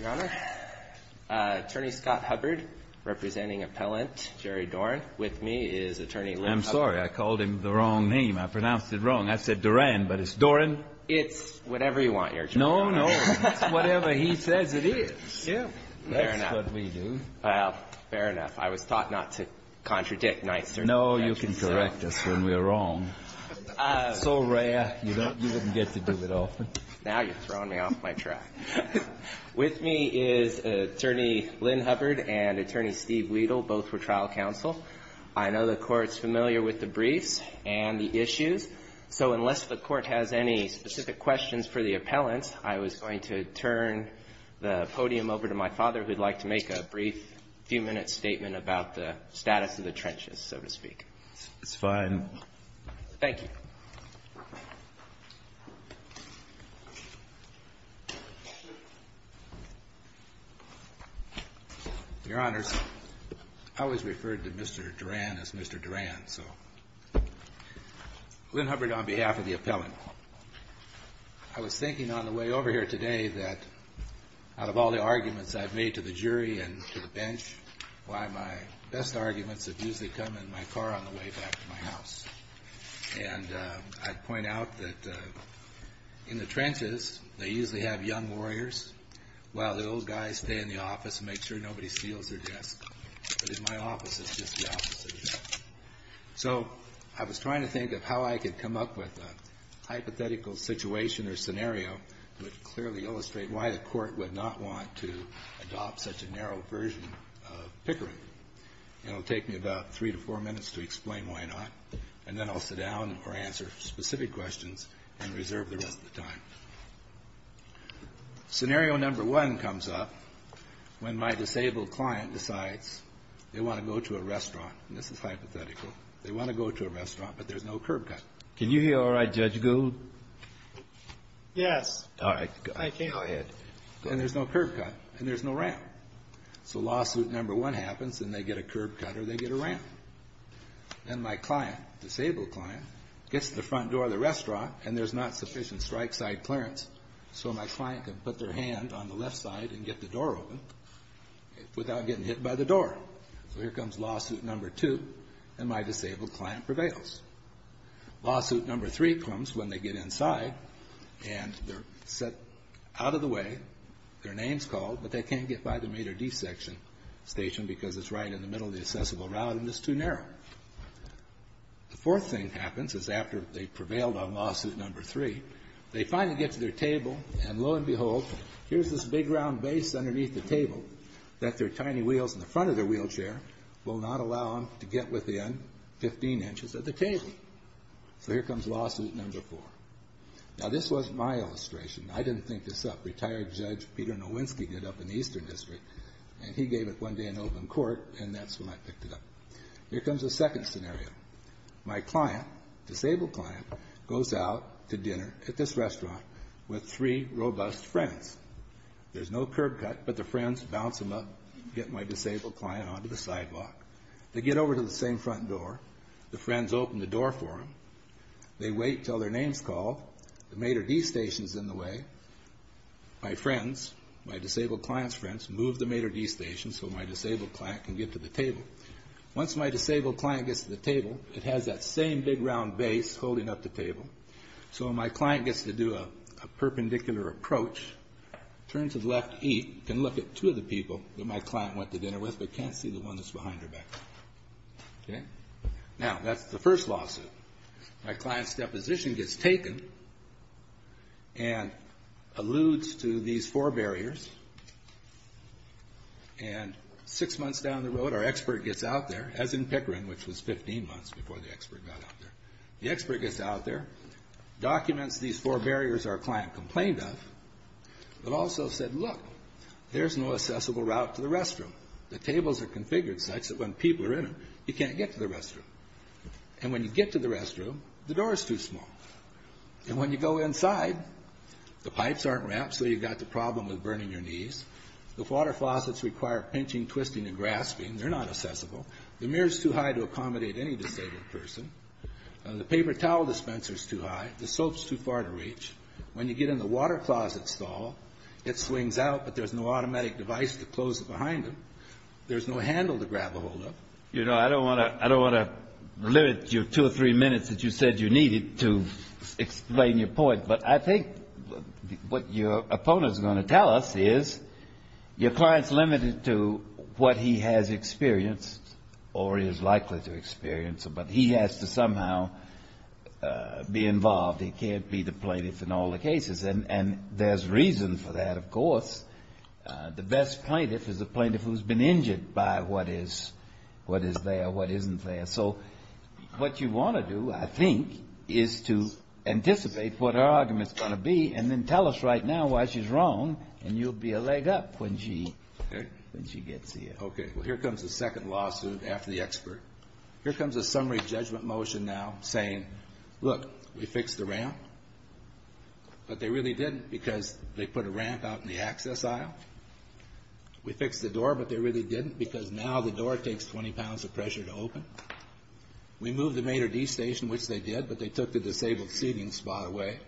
Your Honor, Attorney Scott Hubbard, representing Appellant Jerry Doran. With me is Attorney Lynn Hubbard. I'm sorry. I called him the wrong name. I pronounced it wrong. I said Duran, but it's Doran. It's whatever you want, Your Honor. No, no. It's whatever he says it is. Fair enough. That's what we do. Well, fair enough. I was taught not to contradict. No, you can correct us when we're wrong. It's so rare, you wouldn't get to do it often. Now you're throwing me off my track. With me is Attorney Lynn Hubbard and Attorney Steve Wedel, both for trial counsel. I know the Court's familiar with the briefs and the issues, so unless the Court has any specific questions for the appellants, I was going to turn the podium over to my father, who would like to make a brief few-minute statement about the status of the trenches, so to speak. It's fine. Thank you. Your Honor, I always referred to Mr. Duran as Mr. Duran, so Lynn Hubbard on behalf of the appellant. I was thinking on the way over here today that out of all the arguments I've made to the jury and to the bench, why my best arguments have usually come in my car on the way back to my house. And I'd point out that in the trenches, they usually have young warriors while the old guys stay in the office and make sure nobody steals their desk. But in my office, it's just the opposite. So I was trying to think of how I could come up with a hypothetical situation or scenario that would clearly illustrate why the Court would not want to adopt such a narrow version of Pickering. It'll take me about three to four minutes to explain why not, and then I'll sit down or answer specific questions and reserve the rest of the time. Scenario number one comes up when my disabled client decides they want to go to a restaurant. And this is hypothetical. They want to go to a restaurant, but there's no curb cut. Can you hear all right, Judge Gould? Yes. All right. Thank you. Go ahead. And there's no curb cut, and there's no ramp. So lawsuit number one happens, and they get a curb cut or they get a ramp. Then my client, disabled client, gets to the front door of the restaurant, and there's not sufficient strike side clearance, so my client can put their hand on the left side and get the door open without getting hit by the door. So here comes lawsuit number two, and my disabled client prevails. Lawsuit number three comes when they get inside, and they're set out of the way. Their name's called, but they can't get by the meter D section station because it's right in the middle of the accessible route and it's too narrow. The fourth thing that happens is after they've prevailed on lawsuit number three, they finally get to their table, and lo and behold, here's this big round base underneath the table that their tiny wheels in the front of their wheelchair will not allow them to get within 15 inches of the table. So here comes lawsuit number four. Now, this wasn't my illustration. I didn't think this up. Retired Judge Peter Nowinski did up in the Eastern District, and he gave it one day in open court, and that's when I picked it up. Here comes the second scenario. My client, disabled client, goes out to dinner at this restaurant with three robust friends. There's no curb cut, but the friends bounce them up, get my disabled client onto the sidewalk. They get over to the same front door. The friends open the door for them. They wait until their name's called. The Mater D Station's in the way. My friends, my disabled client's friends, move the Mater D Station so my disabled client can get to the table. Once my disabled client gets to the table, it has that same big round base holding up the table, so when my client gets to do a perpendicular approach, turn to the left, eat, can look at two of the people that my client went to dinner with but can't see the one that's behind her back. Now, that's the first lawsuit. My client's deposition gets taken and alludes to these four barriers. And six months down the road, our expert gets out there, as in Pickering, which was 15 months before the expert got out there. The expert gets out there, documents these four barriers our client complained of, but also said, look, there's no accessible route to the restroom. The tables are configured such that when people are in them, you can't get to the restroom. And when you get to the restroom, the door is too small. And when you go inside, the pipes aren't wrapped, so you've got the problem with burning your knees. The water faucets require pinching, twisting, and grasping. They're not accessible. The mirror's too high to accommodate any disabled person. The paper towel dispenser's too high. The soap's too far to reach. When you get in the water closet stall, it swings out, but there's no automatic device to close it behind them. There's no handle to grab ahold of. You know, I don't want to limit your two or three minutes that you said you needed to explain your point, but I think what your opponent is going to tell us is your client's limited to what he has experienced or is likely to experience, but he has to somehow be involved. He can't be the plaintiff in all the cases. The best plaintiff is the plaintiff who's been injured by what is there, what isn't there. So what you want to do, I think, is to anticipate what her argument's going to be and then tell us right now why she's wrong, and you'll be a leg up when she gets here. Okay. Well, here comes the second lawsuit after the expert. Here comes a summary judgment motion now saying, look, we fixed the ramp, but they really didn't because they put a ramp out in the access aisle. We fixed the door, but they really didn't because now the door takes 20 pounds of pressure to open. We moved the Mater D station, which they did, but they took the disabled seating spot away,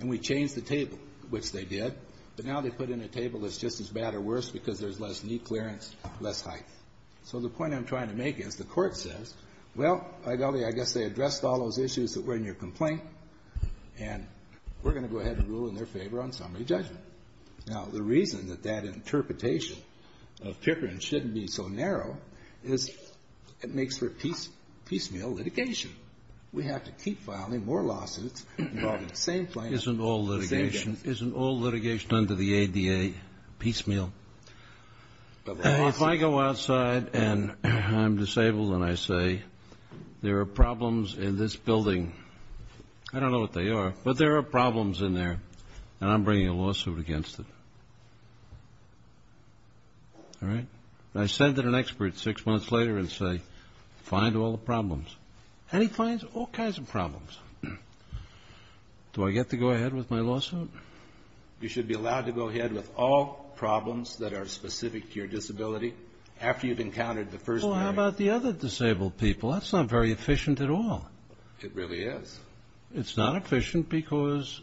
and we changed the table, which they did, but now they put in a table that's just as bad or worse because there's less knee clearance, less height. So the point I'm trying to make is the court says, well, I guess they addressed all those issues that were in your complaint, and we're going to go ahead and rule in their favor on summary judgment. Now, the reason that that interpretation of Pickering shouldn't be so narrow is it makes for piecemeal litigation. We have to keep filing more lawsuits involving the same plan. Isn't all litigation under the ADA piecemeal? If I go outside and I'm disabled and I say there are problems in this building, I don't know what they are, but there are problems in there, and I'm bringing a lawsuit against it. All right? I send in an expert six months later and say, find all the problems. And he finds all kinds of problems. Do I get to go ahead with my lawsuit? You should be allowed to go ahead with all problems that are specific to your disability after you've encountered the first hearing. Well, how about the other disabled people? That's not very efficient at all. It really is. It's not efficient because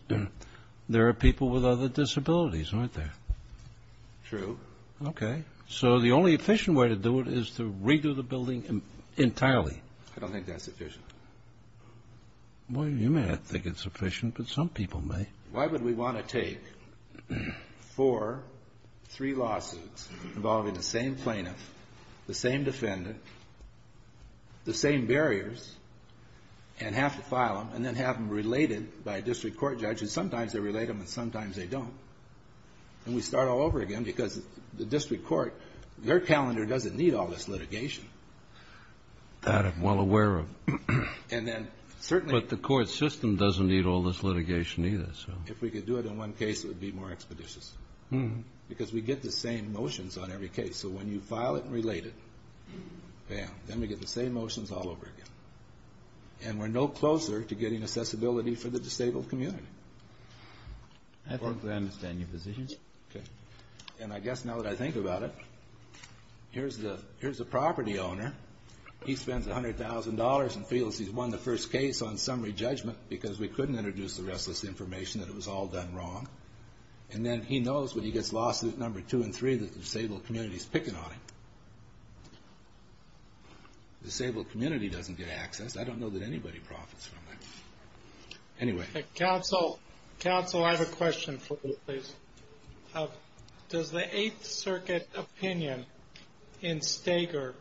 there are people with other disabilities, aren't there? True. Okay. So the only efficient way to do it is to redo the building entirely. I don't think that's efficient. Well, you may not think it's efficient, but some people may. Why would we want to take four, three lawsuits involving the same plaintiff, the same defendant, the same barriers and have to file them and then have them related by a district court judge? And sometimes they relate them and sometimes they don't. And we start all over again because the district court, their calendar doesn't need all this litigation. That I'm well aware of. And then certainly the court system doesn't need all this litigation either. If we could do it in one case, it would be more expeditious because we get the same motions on every case. So when you file it and relate it, bam, then we get the same motions all over again. And we're no closer to getting accessibility for the disabled community. I think we understand your position. Okay. And I guess now that I think about it, here's the property owner. He spends $100,000 and feels he's won the first case on summary judgment because we couldn't introduce the rest of this information, that it was all done wrong. And then he knows when he gets lawsuits number two and three that the disabled community is picking on him. Disabled community doesn't get access. I don't know that anybody profits from that. Anyway. Counsel, I have a question for you, please. Does the Eighth Circuit opinion in Steger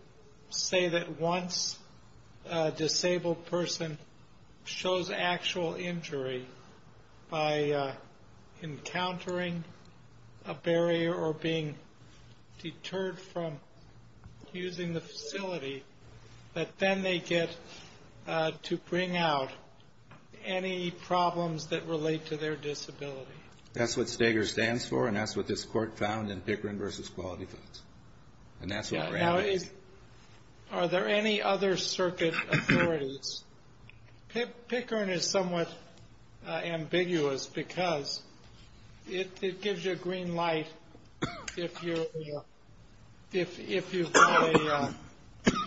say that once a disabled person shows actual injury by encountering a barrier or being deterred from using the facility, that then they get to bring out any problems that relate to their disability? That's what Steger stands for, and that's what this court found in Pickering v. Quality Foods. And that's what we're asking. Are there any other circuit authorities? Pickering is somewhat ambiguous because it gives you a green light if you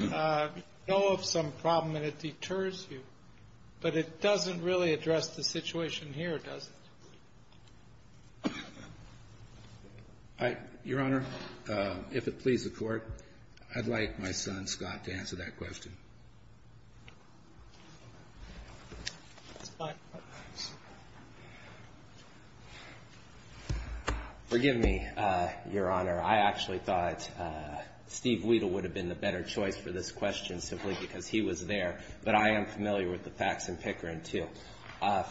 know of some problem and it deters you. But it doesn't really address the situation here, does it? Your Honor, if it please the Court, I'd like my son, Scott, to answer that question. Forgive me, Your Honor. I actually thought Steve Wedel would have been the better choice for this question simply because he was there. But I am familiar with the facts in Pickering, too.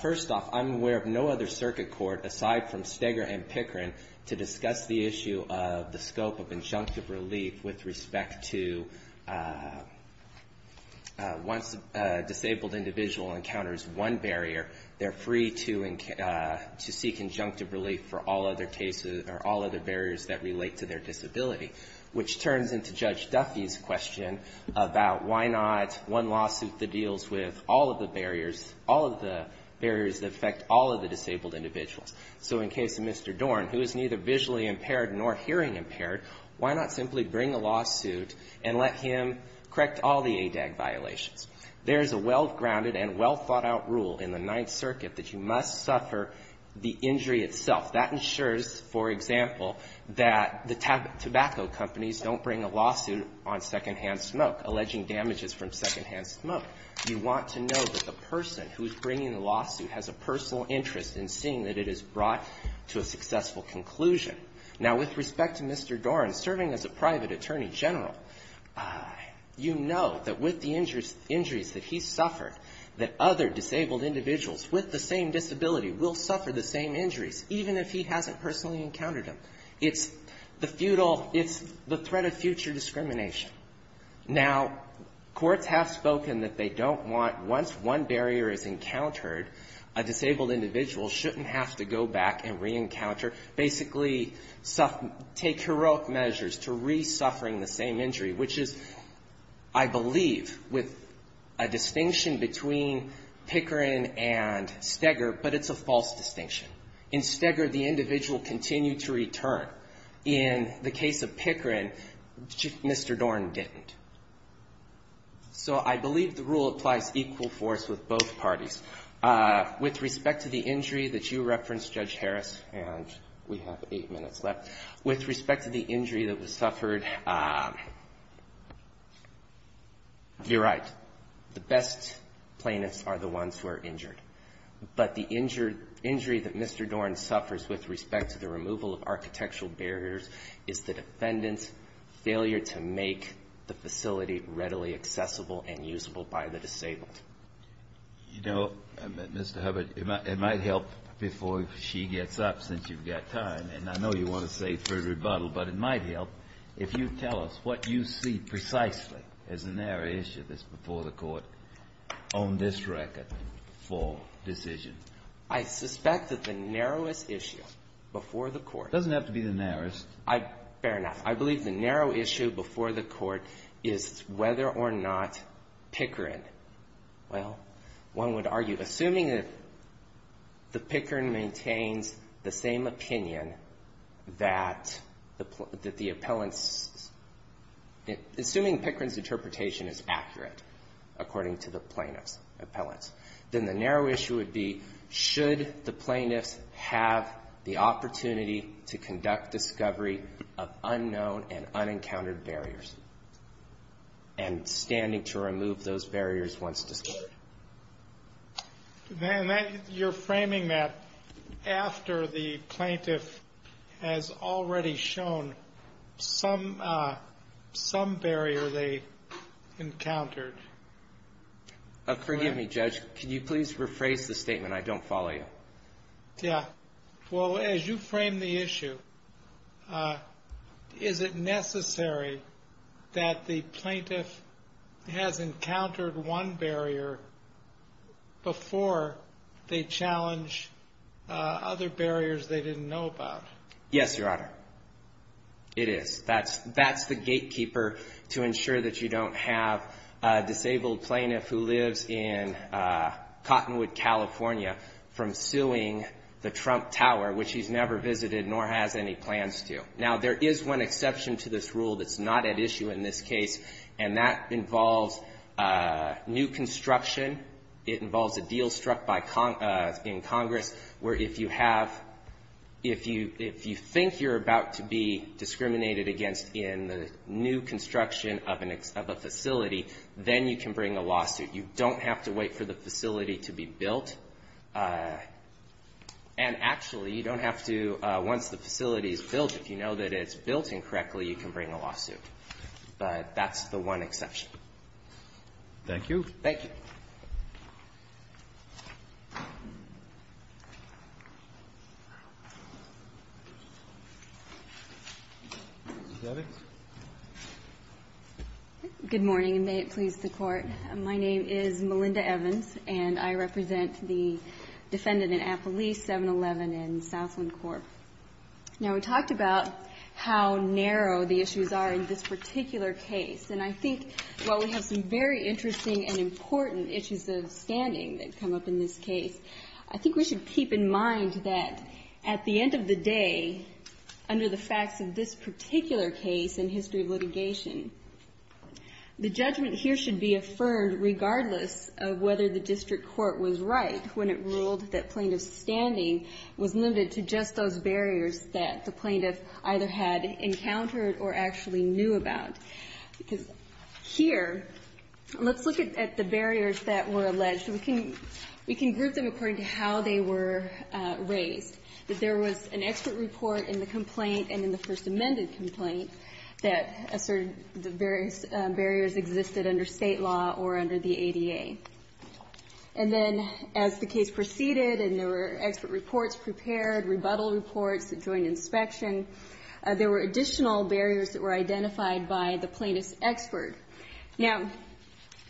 First off, I'm aware of no other circuit court, aside from Steger and Pickering, to discuss the issue of the scope of injunctive relief with respect to once a disabled individual encounters one barrier, they're free to seek injunctive relief for all other cases or all other barriers that relate to their disability, which turns into Judge Duffy's question about why not one lawsuit that deals with all of the barriers, all of the barriers that affect all of the disabled individuals. So in the case of Mr. Dorn, who is neither visually impaired nor hearing impaired, why not simply bring a lawsuit and let him correct all the ADAG violations? There is a well-grounded and well-thought-out rule in the Ninth Circuit that you must suffer the injury itself. That ensures, for example, that the tobacco companies don't bring a lawsuit on secondhand smoke, alleging damages from secondhand smoke. You want to know that the person who is bringing the lawsuit has a personal interest in seeing that it is brought to a successful conclusion. Now, with respect to Mr. Dorn serving as a private attorney general, you know that with the injuries that he suffered, that other disabled individuals with the same disability will suffer the same injuries, even if he hasn't personally encountered them. It's the futile, it's the threat of future discrimination. Now, courts have spoken that they don't want, once one barrier is encountered, a disabled individual shouldn't have to go back and re-encounter, basically take heroic measures to re-suffering the same injury, which is, I believe, with a distinction between Pickering and Steger, but it's a false distinction. In Steger, the individual continued to return. In the case of Pickering, Mr. Dorn didn't. So I believe the rule applies equal force with both parties. With respect to the injury that you referenced, Judge Harris, and we have eight minutes left, with respect to the injury that was suffered, you're right. The best plaintiffs are the ones who are injured. But the injury that Mr. Dorn suffers with respect to the removal of architectural barriers is the defendant's failure to make the facility readily accessible and usable by the disabled. You know, Mr. Hubbard, it might help before she gets up, since you've got time, and I know you want to say further rebuttal, but it might help if you tell us what you see precisely as a narrow issue that's before the Court on this record for decision. I suspect that the narrowest issue before the Court — It doesn't have to be the narrowest. Fair enough. I believe the narrow issue before the Court is whether or not Pickering — well, one would argue, assuming that the Pickering maintains the same opinion that the appellant's — assuming Pickering's interpretation is accurate, according to the plaintiff's appellant, then the narrow issue would be, should the plaintiffs have the opportunity to conduct discovery of unknown and unencountered barriers, and standing to remove those barriers once discovered. And you're framing that after the plaintiff has already shown some barrier they encountered. Forgive me, Judge. Could you please rephrase the statement? I don't follow you. Yeah. Well, as you frame the issue, is it necessary that the plaintiff has encountered one barrier before they challenge other barriers they didn't know about? Yes, Your Honor. It is. That's the gatekeeper to ensure that you don't have a disabled plaintiff who lives in the Trump Tower, which he's never visited nor has any plans to. Now, there is one exception to this rule that's not at issue in this case, and that involves new construction. It involves a deal struck by — in Congress where if you have — if you — if you think you're about to be discriminated against in the new construction of a facility, then you can bring a lawsuit. You don't have to wait for the facility to be built. And actually, you don't have to — once the facility is built, if you know that it's built incorrectly, you can bring a lawsuit. But that's the one exception. Thank you. Thank you. Good morning, and may it please the Court. My name is Melinda Evans, and I represent the defendant in Appalease 711 in Southland Corp. Now, we talked about how narrow the issues are in this particular case. And I think while we have some very interesting and important issues of standing that come up in this case, I think we should keep in mind that at the end of the day, under the facts of this particular case and history of litigation, the judgment here should be affirmed regardless of whether the district court was right when it ruled that plaintiff's standing was limited to just those barriers that the plaintiff either had encountered or actually knew about. Because here, let's look at the barriers that were alleged. We can — we can group them according to how they were raised, that there was an expert report in the complaint and in the First Amendment complaint that asserted the various barriers existed under State law or under the ADA. And then as the case proceeded and there were expert reports prepared, rebuttal reports that joined inspection, there were additional barriers that were identified by the plaintiff's expert. Now,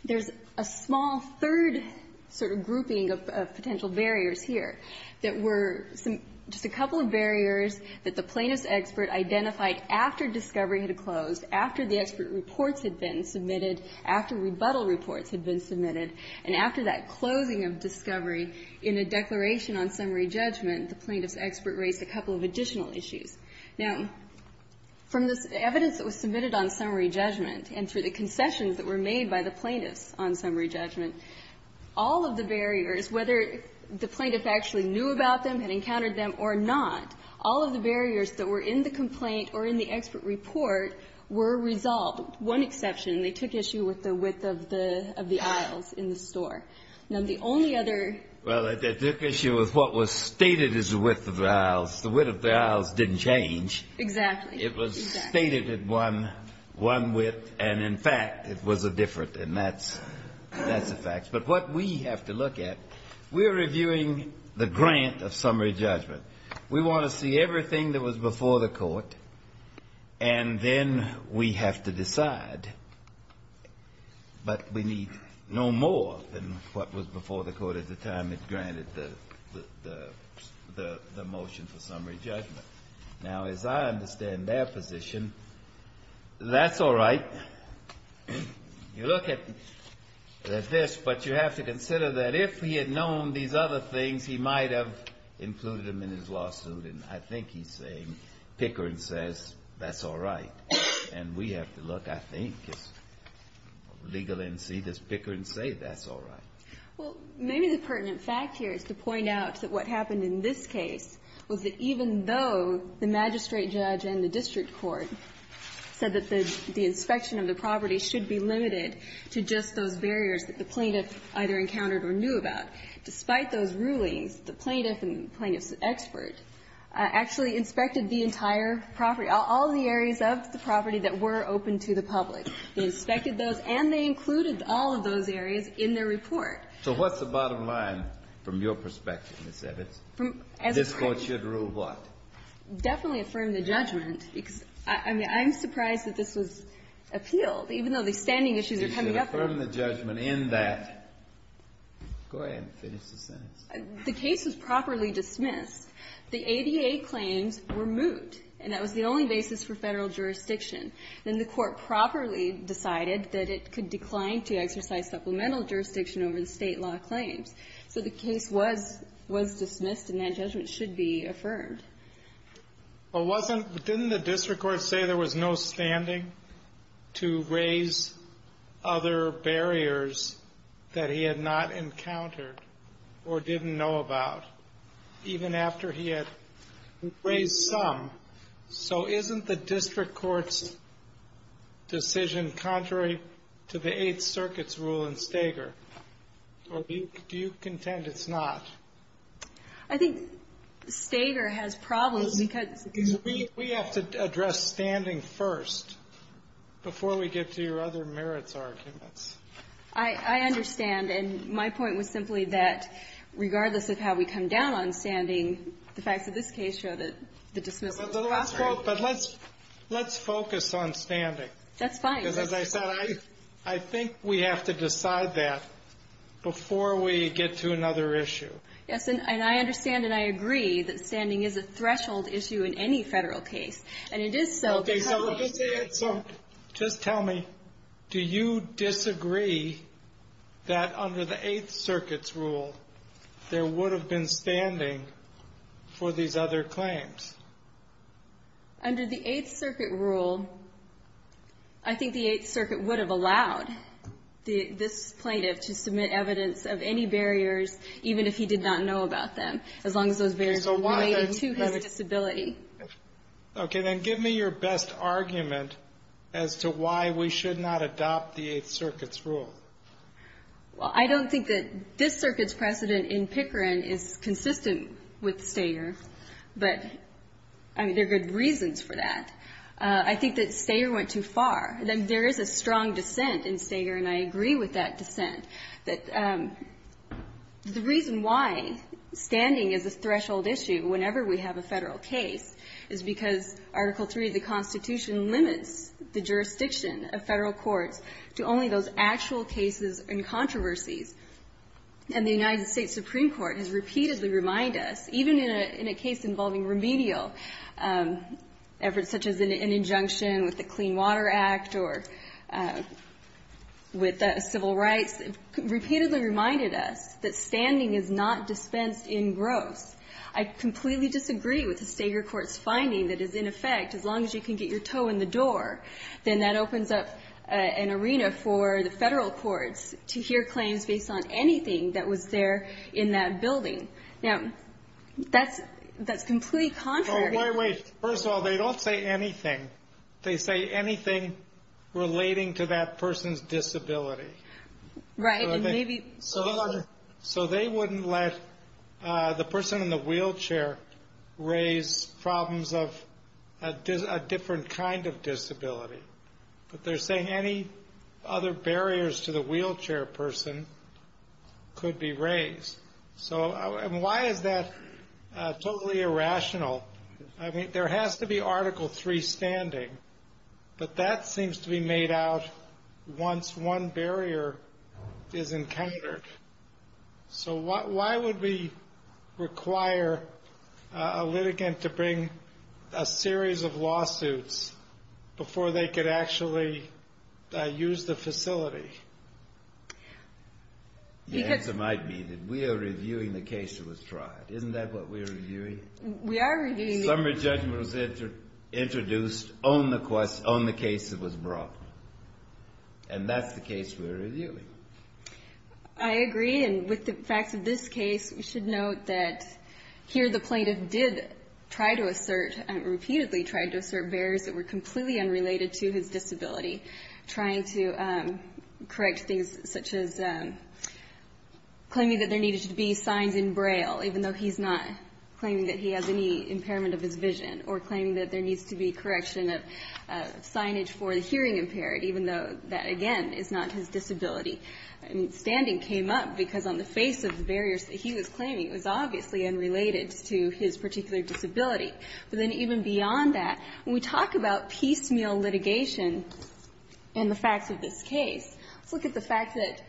there's a small third sort of grouping of potential barriers here that were some — just a couple of barriers that the plaintiff's expert identified after discovery had closed, after the expert reports had been submitted, after rebuttal reports had been submitted, and after that closing of discovery in a declaration on summary judgment, the plaintiff's expert raised a couple of additional issues. Now, from this evidence that was submitted on summary judgment and through the concessions that were made by the plaintiffs on summary judgment, all of the barriers, whether the plaintiff actually knew about them, had encountered them or not, all of the barriers that were in the complaint or in the expert report were resolved, with one exception. They took issue with the width of the — of the aisles in the store. Now, the only other — Well, it took issue with what was stated as the width of the aisles. The width of the aisles didn't change. Exactly. It was stated at one — one width, and in fact, it was a different, and that's — that's a fact. But what we have to look at, we're reviewing the grant of summary judgment. We want to see everything that was before the Court, and then we have to decide. But we need no more than what was before the Court at the time it granted the — the motion for summary judgment. Now, as I understand their position, that's all right. You look at this, but you have to consider that if he had known these other things, he might have included them in his lawsuit. And I think he's saying, Pickering says, that's all right. And we have to look, I think, as legal NC, does Pickering say that's all right? Well, maybe the pertinent fact here is to point out that what happened in this case was that even though the magistrate judge and the district court said that the inspection of the property should be limited to just those barriers that the plaintiff either encountered or knew about, despite those rulings, the plaintiff and the plaintiff's expert actually inspected the entire property, all the areas of the property that were open to the public. They inspected those, and they included all of those areas in their report. So what's the bottom line from your perspective, Ms. Evitz? From — This Court should rule what? Definitely affirm the judgment, because, I mean, I'm surprised that this was appealed, even though the standing issues are coming up. You should affirm the judgment in that. Go ahead and finish the sentence. The case was properly dismissed. The ADA claims were moot, and that was the only basis for Federal jurisdiction. Then the Court properly decided that it could decline to exercise supplemental jurisdiction over the State law claims. So the case was dismissed, and that judgment should be affirmed. But wasn't — didn't the district court say there was no standing to raise other barriers that he had not encountered or didn't know about, even after he had raised some? So isn't the district court's decision contrary to the Eighth Circuit's rule in Stager, or do you contend it's not? I think Stager has problems because — We have to address standing first before we get to your other merits arguments. I understand. And my point was simply that, regardless of how we come down on standing, the facts of this case show that the dismissal is contrary. But let's focus on standing. That's fine. Because as I said, I think we have to decide that before we get to another issue. Yes. And I understand and I agree that standing is a threshold issue in any Federal case. And it is so because — Okay. So just tell me, do you disagree that under the Eighth Circuit's rule there would have been standing for these other claims? Under the Eighth Circuit rule, I think the Eighth Circuit would have allowed this plaintiff to submit evidence of any barriers, even if he did not know about them, as long as those barriers were related to his disability. Okay. Then give me your best argument as to why we should not adopt the Eighth Circuit's rule. Well, I don't think that this Circuit's precedent in Pickering is consistent with Stager. But, I mean, there are good reasons for that. I think that Stager went too far. There is a strong dissent in Stager, and I agree with that dissent, that the reason why standing is a threshold issue whenever we have a Federal case is because Article 3 of the Constitution limits the jurisdiction of Federal courts to only those actual cases and controversies. And the United States Supreme Court has repeatedly reminded us, even in a case involving remedial efforts such as an injunction with the Clean Water Act or with civil rights, repeatedly reminded us that standing is not dispensed in gross. I completely disagree with the Stager court's finding that is, in effect, as long as you can get your toe in the door, then that opens up an arena for the Federal courts to hear claims based on anything that was there in that building. Now, that's completely contrary. Wait, wait, wait. First of all, they don't say anything. They say anything relating to that person's disability. Right, and maybe... So they wouldn't let the person in the wheelchair raise problems of a different kind of disability. But they're saying any other barriers to the wheelchair person could be raised. So, I mean, why is that totally irrational? I mean, there has to be Article 3 standing, but that seems to be made out once one barrier is encountered. So why would we require a litigant to bring a series of lawsuits before they could actually use the facility? The answer might be that we are reviewing the case that was tried. Isn't that what we're reviewing? We are reviewing... A summary judgment was introduced on the case that was brought. And that's the case we're reviewing. I agree. And with the facts of this case, we should note that here the plaintiff did try to assert, repeatedly tried to assert barriers that were completely unrelated to his disability, trying to correct things such as claiming that there needed to be signs in Braille, even though he's not claiming that he has any impairment of his vision, or claiming that there needs to be correction of signage for the hearing impaired, even though that, again, is not his disability. I mean, standing came up because on the face of the barriers that he was claiming was obviously unrelated to his particular disability. But then even beyond that, when we talk about piecemeal litigation and the facts of this case, let's look at the fact that,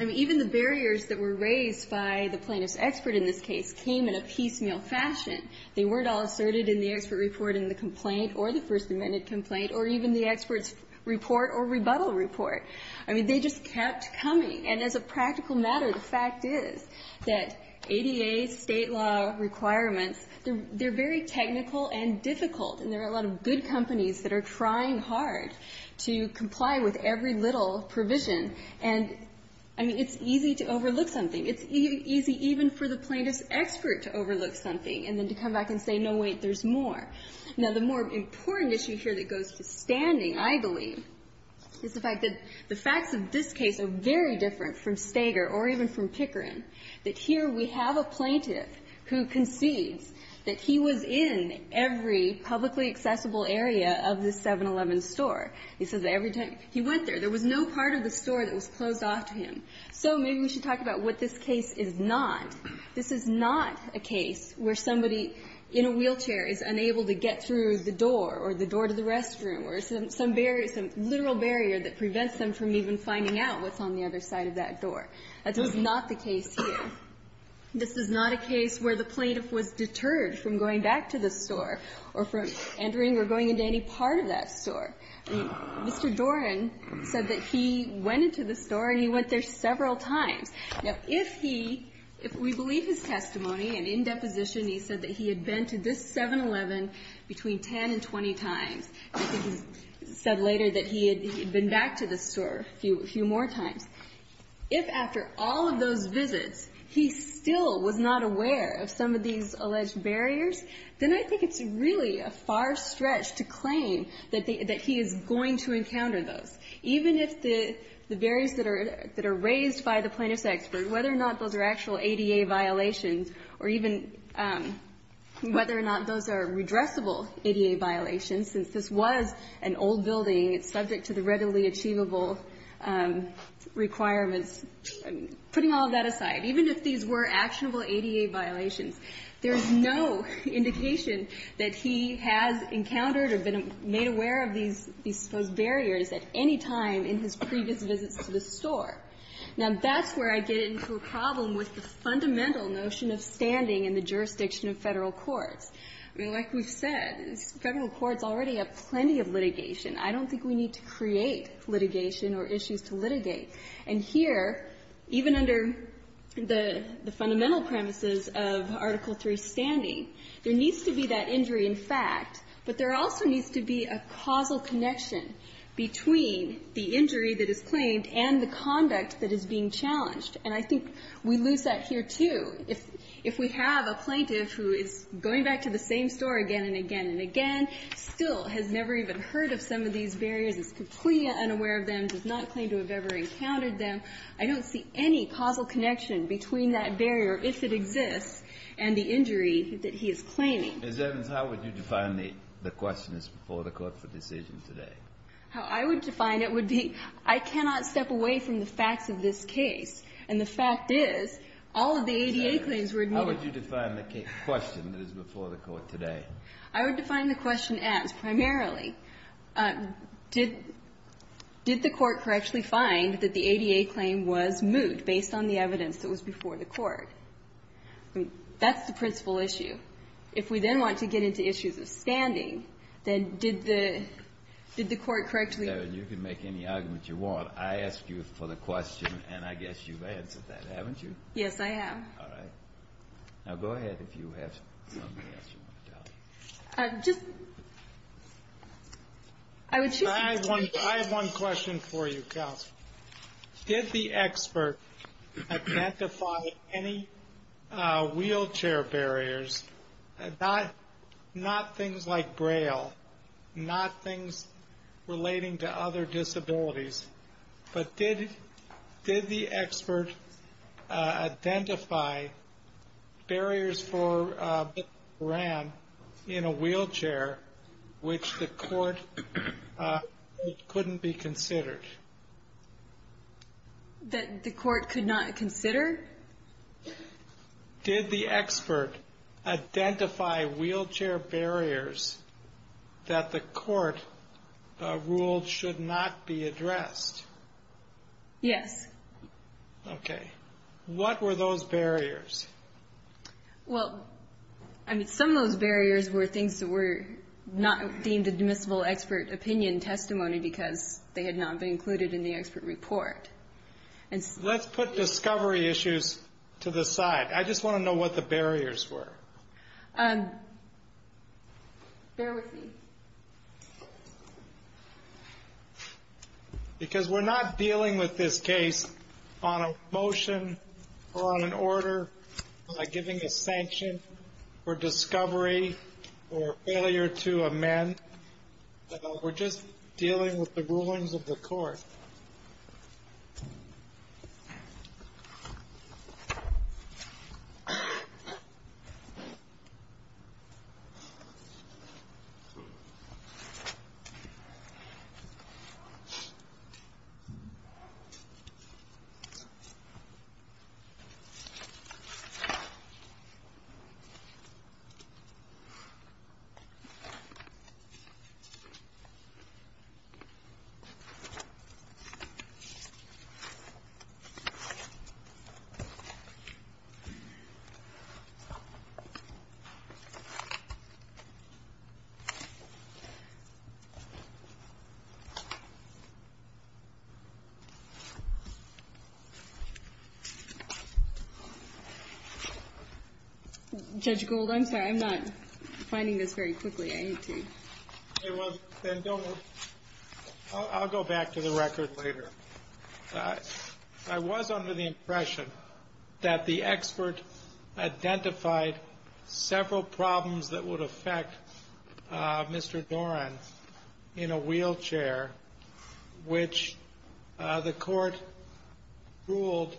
I mean, even the barriers that were raised by the plaintiff's expert in this case came in a piecemeal fashion. They weren't all asserted in the expert report in the complaint or the First Amendment complaint or even the expert's report or rebuttal report. I mean, they just kept coming. And as a practical matter, the fact is that ADA State law requirements, they're very technical and difficult. And there are a lot of good companies that are trying hard to comply with every little provision. And, I mean, it's easy to overlook something. It's easy even for the plaintiff's expert to overlook something and then to come back and say, no, wait, there's more. Now, the more important issue here that goes to standing, I believe, is the fact that the facts of this case are very different from Stager or even from Pickering, that here we have a plaintiff who concedes that he was in every publicly accessible area of the 7-Eleven store. He says that every time he went there, there was no part of the store that was closed off to him. So maybe we should talk about what this case is not. This is not a case where somebody in a wheelchair is unable to get through the door or the door to the restroom or some barrier, some literal barrier that prevents them from even finding out what's on the other side of that door. That is not the case here. This is not a case where the plaintiff was deterred from going back to the store or from entering or going into any part of that store. I mean, Mr. Doran said that he went into the store and he went there several times. Now, if he, if we believe his testimony and in deposition he said that he had been to this 7-Eleven between 10 and 20 times, I think he said later that he had been back to the store a few more times, if after all of those visits he still was not aware of some of these alleged barriers, then I think it's really a far stretch to claim that he is going to encounter those. Even if the barriers that are raised by the plaintiff's expert, whether or not those are actual ADA violations or even whether or not those are redressable ADA violations, since this was an old building, it's subject to the readily achievable requirements. Putting all of that aside, even if these were actionable ADA violations, there is no indication that he has encountered or been made aware of these supposed barriers at any time in his previous visits to the store. Now, that's where I get into a problem with the fundamental notion of standing in the jurisdiction of Federal courts. I mean, like we've said, Federal courts already have plenty of litigation. I don't think we need to create litigation or issues to litigate. And here, even under the fundamental premises of Article III standing, there needs to be that injury in fact, but there also needs to be a causal connection between the injury that is claimed and the conduct that is being challenged. And I think we lose that here, too. If we have a plaintiff who is going back to the same store again and again and again, still has never even heard of some of these barriers, is completely unaware of them, does not claim to have ever encountered them, I don't see any causal connection between that barrier, if it exists, and the injury that he is claiming. Breyer, as evidence, how would you define the question that's before the Court for decision today? How I would define it would be I cannot step away from the facts of this case. And the fact is, all of the ADA claims were admitted. As evidence, how would you define the question that is before the Court today? I would define the question as, primarily, did the Court correctly find that the ADA claim was moot based on the evidence that was before the Court? I mean, that's the principal issue. If we then want to get into issues of standing, then did the Court correctly ---- You can make any argument you want. I asked you for the question, and I guess you've answered that, haven't you? Yes, I have. All right. Now, go ahead if you have something else you want to tell me. Just ---- I have one question for you, counsel. Did the expert identify any wheelchair barriers, not things like Braille, not things relating to other disabilities, but did the expert identify barriers in a wheelchair which the Court couldn't be considered? That the Court could not consider? Did the expert identify wheelchair barriers that the Court ruled should not be addressed? Yes. Okay. What were those barriers? Well, I mean, some of those barriers were things that were not deemed admissible expert opinion testimony because they had not been included in the expert report. Let's put discovery issues to the side. I just want to know what the barriers were. Bear with me. Because we're not dealing with this case on a motion or on an order, like giving a sanction or discovery or failure to amend. We're just dealing with the rulings of the Court. Thank you. Judge Gould, I'm sorry. I'm not finding this very quickly. I need to ---- Okay, well, then don't move. I'll go back to the record later. I was under the impression that the expert identified several problems that would affect Mr. Doran in a wheelchair, which the Court ruled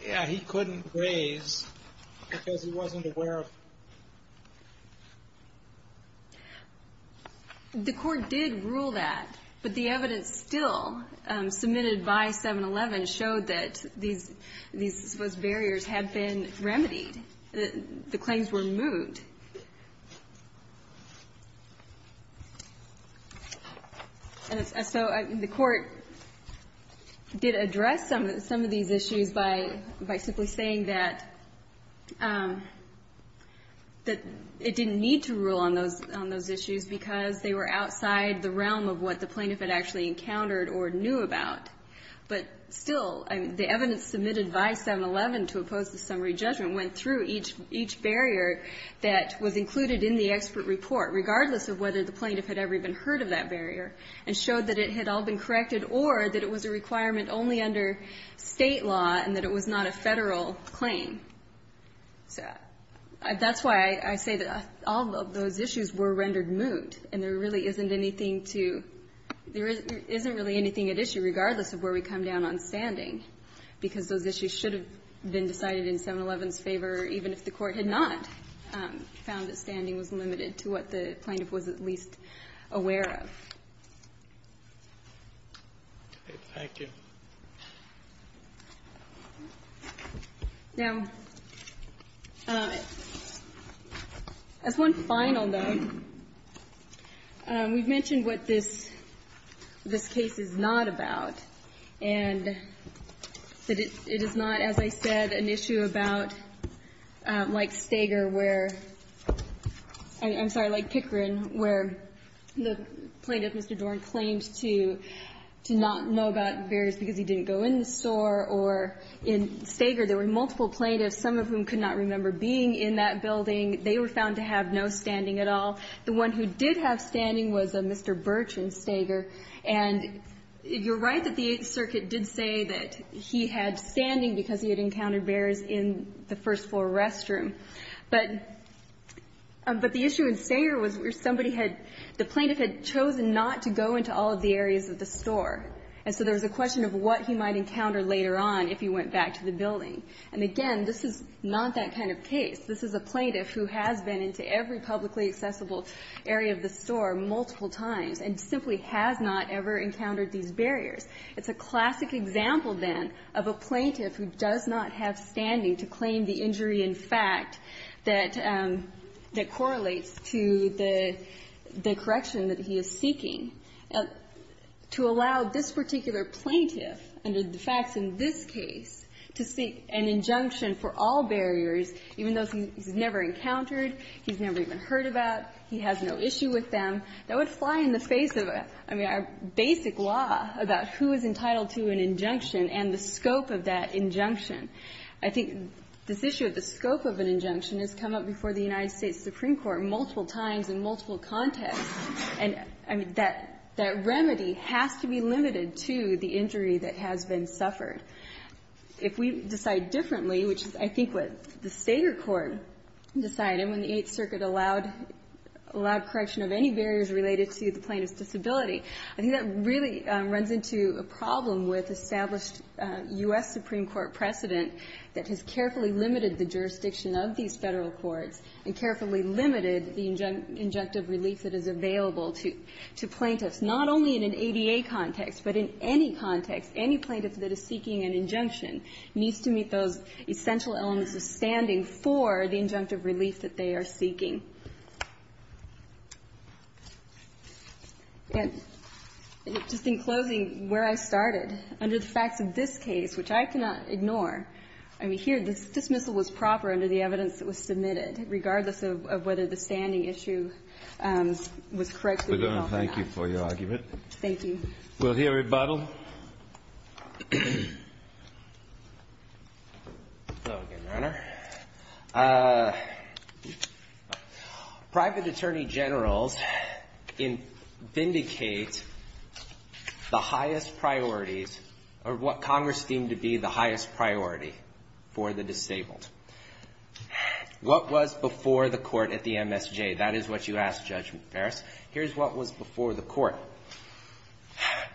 he couldn't raise because he wasn't aware of. The Court did rule that, but the evidence still submitted by 7-11 showed that these barriers had been remedied. The claims were moved. And so the Court did address some of these issues by simply saying that it didn't need to rule on those issues because they were outside the realm of what the plaintiff had actually encountered or knew about. But still, the evidence submitted by 7-11 to oppose the summary judgment went through each barrier that was included in the expert report, regardless of whether the plaintiff had ever even heard of that barrier, and showed that it had all been corrected or that it was a requirement only under State law and that it was not a Federal So that's why I say that all of those issues were rendered moot. And there really isn't anything to ---- there isn't really anything at issue, regardless of where we come down on standing, because those issues should have been decided in 7-11's favor, even if the Court had not found that standing was limited to what the plaintiff was at least aware of. Thank you. Now, as one final note, we've mentioned what this case is not about, and that it is not, as I said, an issue about like Stager where ---- I'm sorry, like Pickering, where the plaintiff, Mr. Doran, claimed to not know about various barriers because he didn't go in the store or in Stager. There were multiple plaintiffs, some of whom could not remember being in that building. They were found to have no standing at all. The one who did have standing was Mr. Birch in Stager. And you're right that the Eighth Circuit did say that he had standing because he had encountered barriers in the first floor restroom. But the issue in Stager was where somebody had ---- the plaintiff had chosen not to go into all of the areas of the store. And so there was a question of what he might encounter later on if he went back to the building. And again, this is not that kind of case. This is a plaintiff who has been into every publicly accessible area of the store multiple times and simply has not ever encountered these barriers. It's a classic example, then, of a plaintiff who does not have standing to claim the injury in fact that correlates to the correction that he is seeking. To allow this particular plaintiff, under the facts in this case, to seek an injunction for all barriers, even those he's never encountered, he's never even heard about, he has no issue with them, that would fly in the face of a ---- I mean, a basic law about who is entitled to an injunction and the scope of that injunction. I think this issue of the scope of an injunction has come up before the United States Supreme Court multiple times in multiple contexts. And, I mean, that remedy has to be limited to the injury that has been suffered. If we decide differently, which is, I think, what the Sager Court decided when the Eighth Circuit allowed correction of any barriers related to the plaintiff's disability, I think that really runs into a problem with established U.S. Supreme Court precedent that has carefully limited the jurisdiction of these Federal courts and carefully limited the injunctive relief that is available to plaintiffs, not only in an ADA context, but in any context. Any plaintiff that is seeking an injunction needs to meet those essential elements of standing for the injunctive relief that they are seeking. And just in closing, where I started, under the facts of this case, which I cannot ignore, I mean, here, this dismissal was proper under the evidence that was submitted. Regardless of whether the standing issue was corrected or not. Thank you for your argument. Thank you. We'll hear rebuttal. Hello again, Your Honor. Private Attorney Generals vindicate the highest priorities, or what Congress deemed to be the highest priority for the disabled. What was before the court at the MSJ? That is what you asked, Judge Ferris. Here's what was before the court.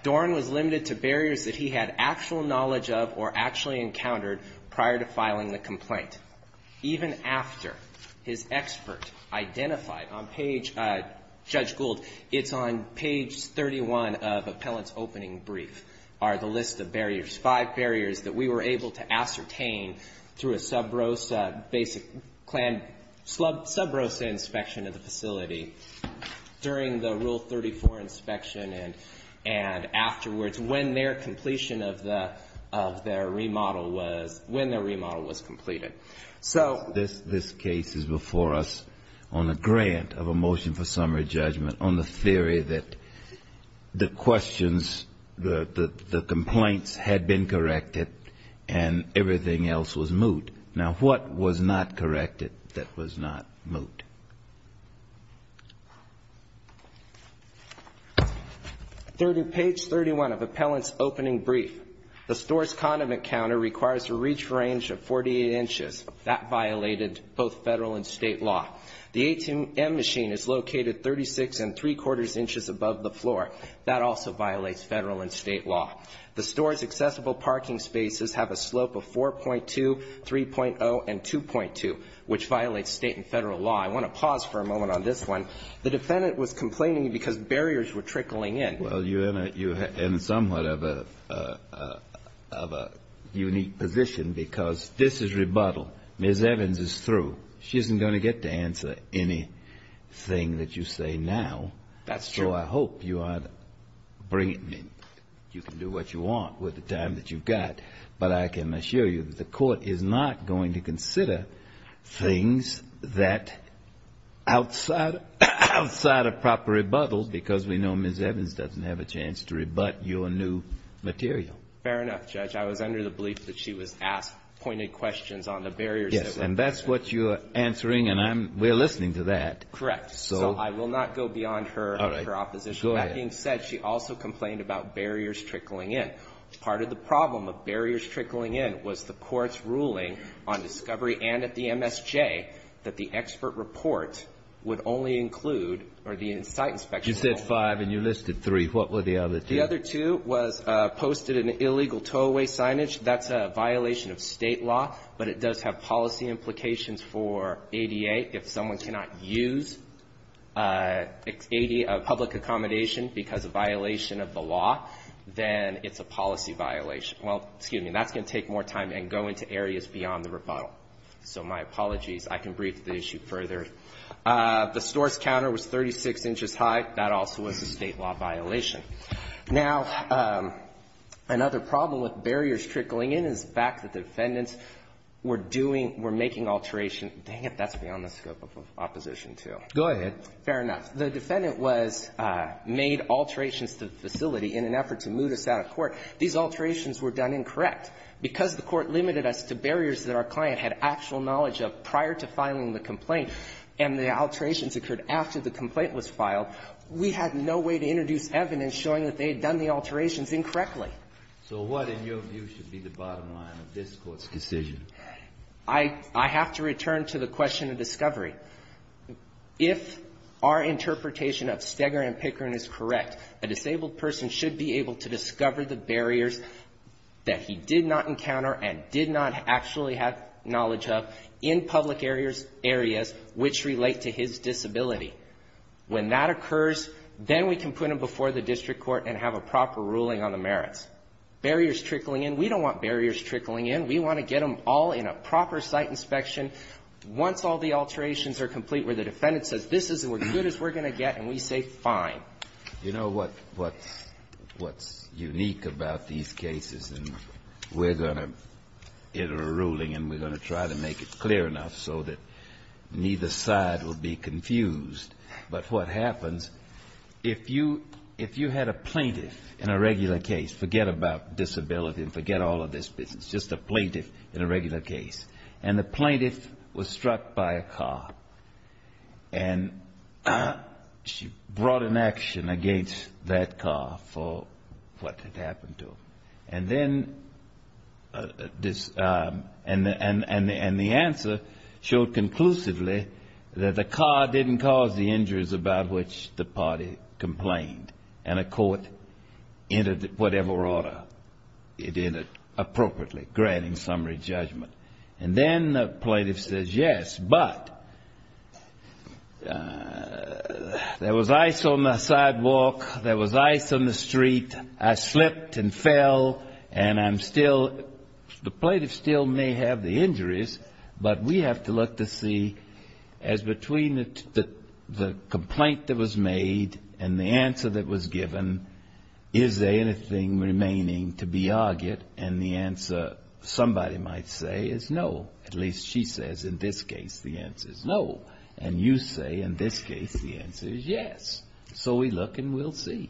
Doran was limited to barriers that he had actual knowledge of or actually encountered prior to filing the complaint. Even after his expert identified on page, Judge Gould, it's on page 31 of appellant's opening brief, are the list of barriers, five barriers that we were able to ascertain through a sub rosa basic plan, sub rosa inspection of the facility during the Rule 34 inspection and afterwards when their completion of their remodel was, when their remodel was completed. This case is before us on a grant of a motion for summary judgment on the theory that the complaints had been corrected and everything else was moot. Now, what was not corrected that was not moot? Page 31 of appellant's opening brief. The store's condiment counter requires a reach range of 48 inches. That violated both Federal and State law. The ATM machine is located 36 3 quarters inches above the floor. That also violates Federal and State law. The store's accessible parking spaces have a slope of 4.2, 3.0 and 2.2, which violates State and Federal law. I want to pause for a moment on this one. The defendant was complaining because barriers were trickling in. Well, you're in somewhat of a unique position because this is rebuttal. Ms. Evans is through. She isn't going to get to answer anything that you say now. That's true. So I hope you are bringing in, you can do what you want with the time that you've got, but I can assure you that the court is not going to consider things that outside of proper rebuttal, because we know Ms. Evans doesn't have a chance to rebut your new material. Fair enough, Judge. I was under the belief that she was asked pointed questions on the barriers that were present. Yes. And that's what you're answering, and I'm we're listening to that. Correct. So I will not go beyond her. All right. Go ahead. That being said, she also complained about barriers trickling in. Part of the problem of barriers trickling in was the court's ruling on discovery and at the MSJ that the expert report would only include, or the in-site inspection only. You said five and you listed three. What were the other two? The other two was posted an illegal tow-away signage. That's a violation of State law, but it does have policy implications for ADA. If someone cannot use a public accommodation because of violation of the law, then it's a policy violation. Well, excuse me, that's going to take more time and go into areas beyond the rebuttal. So my apologies. I can brief the issue further. The store's counter was 36 inches high. That also was a State law violation. Now, another problem with barriers trickling in is the fact that the defendants were doing, were making alterations. Dang it, that's beyond the scope of opposition, too. Go ahead. Fair enough. The defendant was made alterations to the facility in an effort to move us out of court. These alterations were done incorrect. Because the Court limited us to barriers that our client had actual knowledge of prior to filing the complaint and the alterations occurred after the complaint was filed, we had no way to introduce evidence showing that they had done the alterations incorrectly. So what, in your view, should be the bottom line of this Court's decision? I have to return to the question of discovery. If our interpretation of Steger and Pickering is correct, a disabled person should be able to discover the barriers that he did not encounter and did not actually have knowledge of in public areas which relate to his disability. When that occurs, then we can put him before the district court and have a proper ruling on the merits. Barriers trickling in, we don't want barriers trickling in. We want to get them all in a proper site inspection. Once all the alterations are complete where the defendant says, this isn't as good as we're going to get, and we say, fine. You know what's unique about these cases? And we're going to enter a ruling and we're going to try to make it clear enough so that neither side will be confused. But what happens, if you had a plaintiff in a regular case, forget about disability and forget all of this business, just a plaintiff in a regular case. And the plaintiff was struck by a car. And she brought an action against that car for what had happened to him. And then this and the answer showed conclusively that the car didn't cause the injuries about which the party complained. And a court entered whatever order it entered appropriately, granting summary judgment. And then the plaintiff says, yes, but there was ice on the sidewalk, there was ice on the street, I slipped and fell, and I'm still the plaintiff still may have the injuries, but we have to look to see as between the complaint that was made and the answer that was given, is there anything remaining to be argued? And the answer somebody might say is no. At least she says in this case the answer is no. And you say in this case the answer is yes. So we look and we'll see.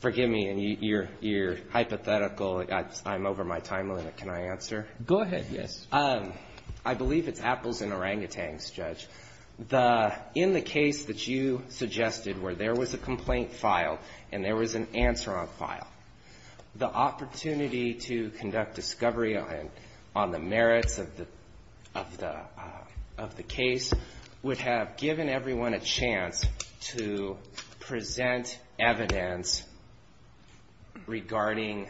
Forgive me, and you're hypothetical. I'm over my time limit. Can I answer? Go ahead. Yes. I believe it's apples and orangutans, Judge. In the case that you suggested where there was a complaint filed and there was an answer on file, the opportunity to conduct discovery on the merits of the case would have given everyone a chance to present evidence regarding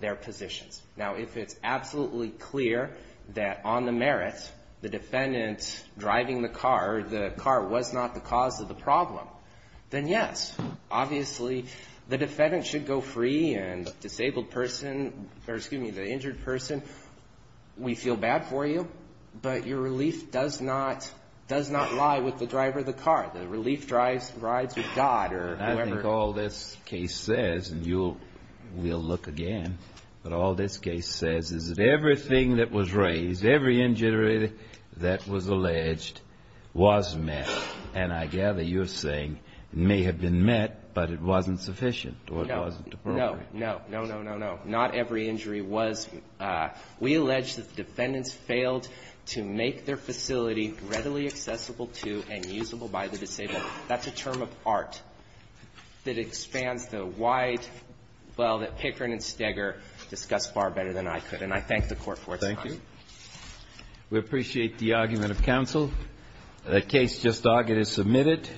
their positions. Now, if it's absolutely clear that on the merits, the defendant driving the car, the car was not the cause of the problem, then yes. Obviously, the defendant should go free and the disabled person, or excuse me, the injured person, we feel bad for you, but your relief does not lie with the driver of the car. The relief rides with God or whoever. Now, what this case says is that everything that was raised, every injury that was alleged, was met. And I gather you're saying it may have been met, but it wasn't sufficient or it wasn't appropriate. No, no, no, no, no, no. Not every injury was. We allege that the defendants failed to make their facility readily accessible to and usable by the disabled. That's a term of art that expands the wide, well, that Pickering and Steger discuss far better than I could, and I thank the Court for its time. Thank you. We appreciate the argument of counsel. The case just argued is submitted.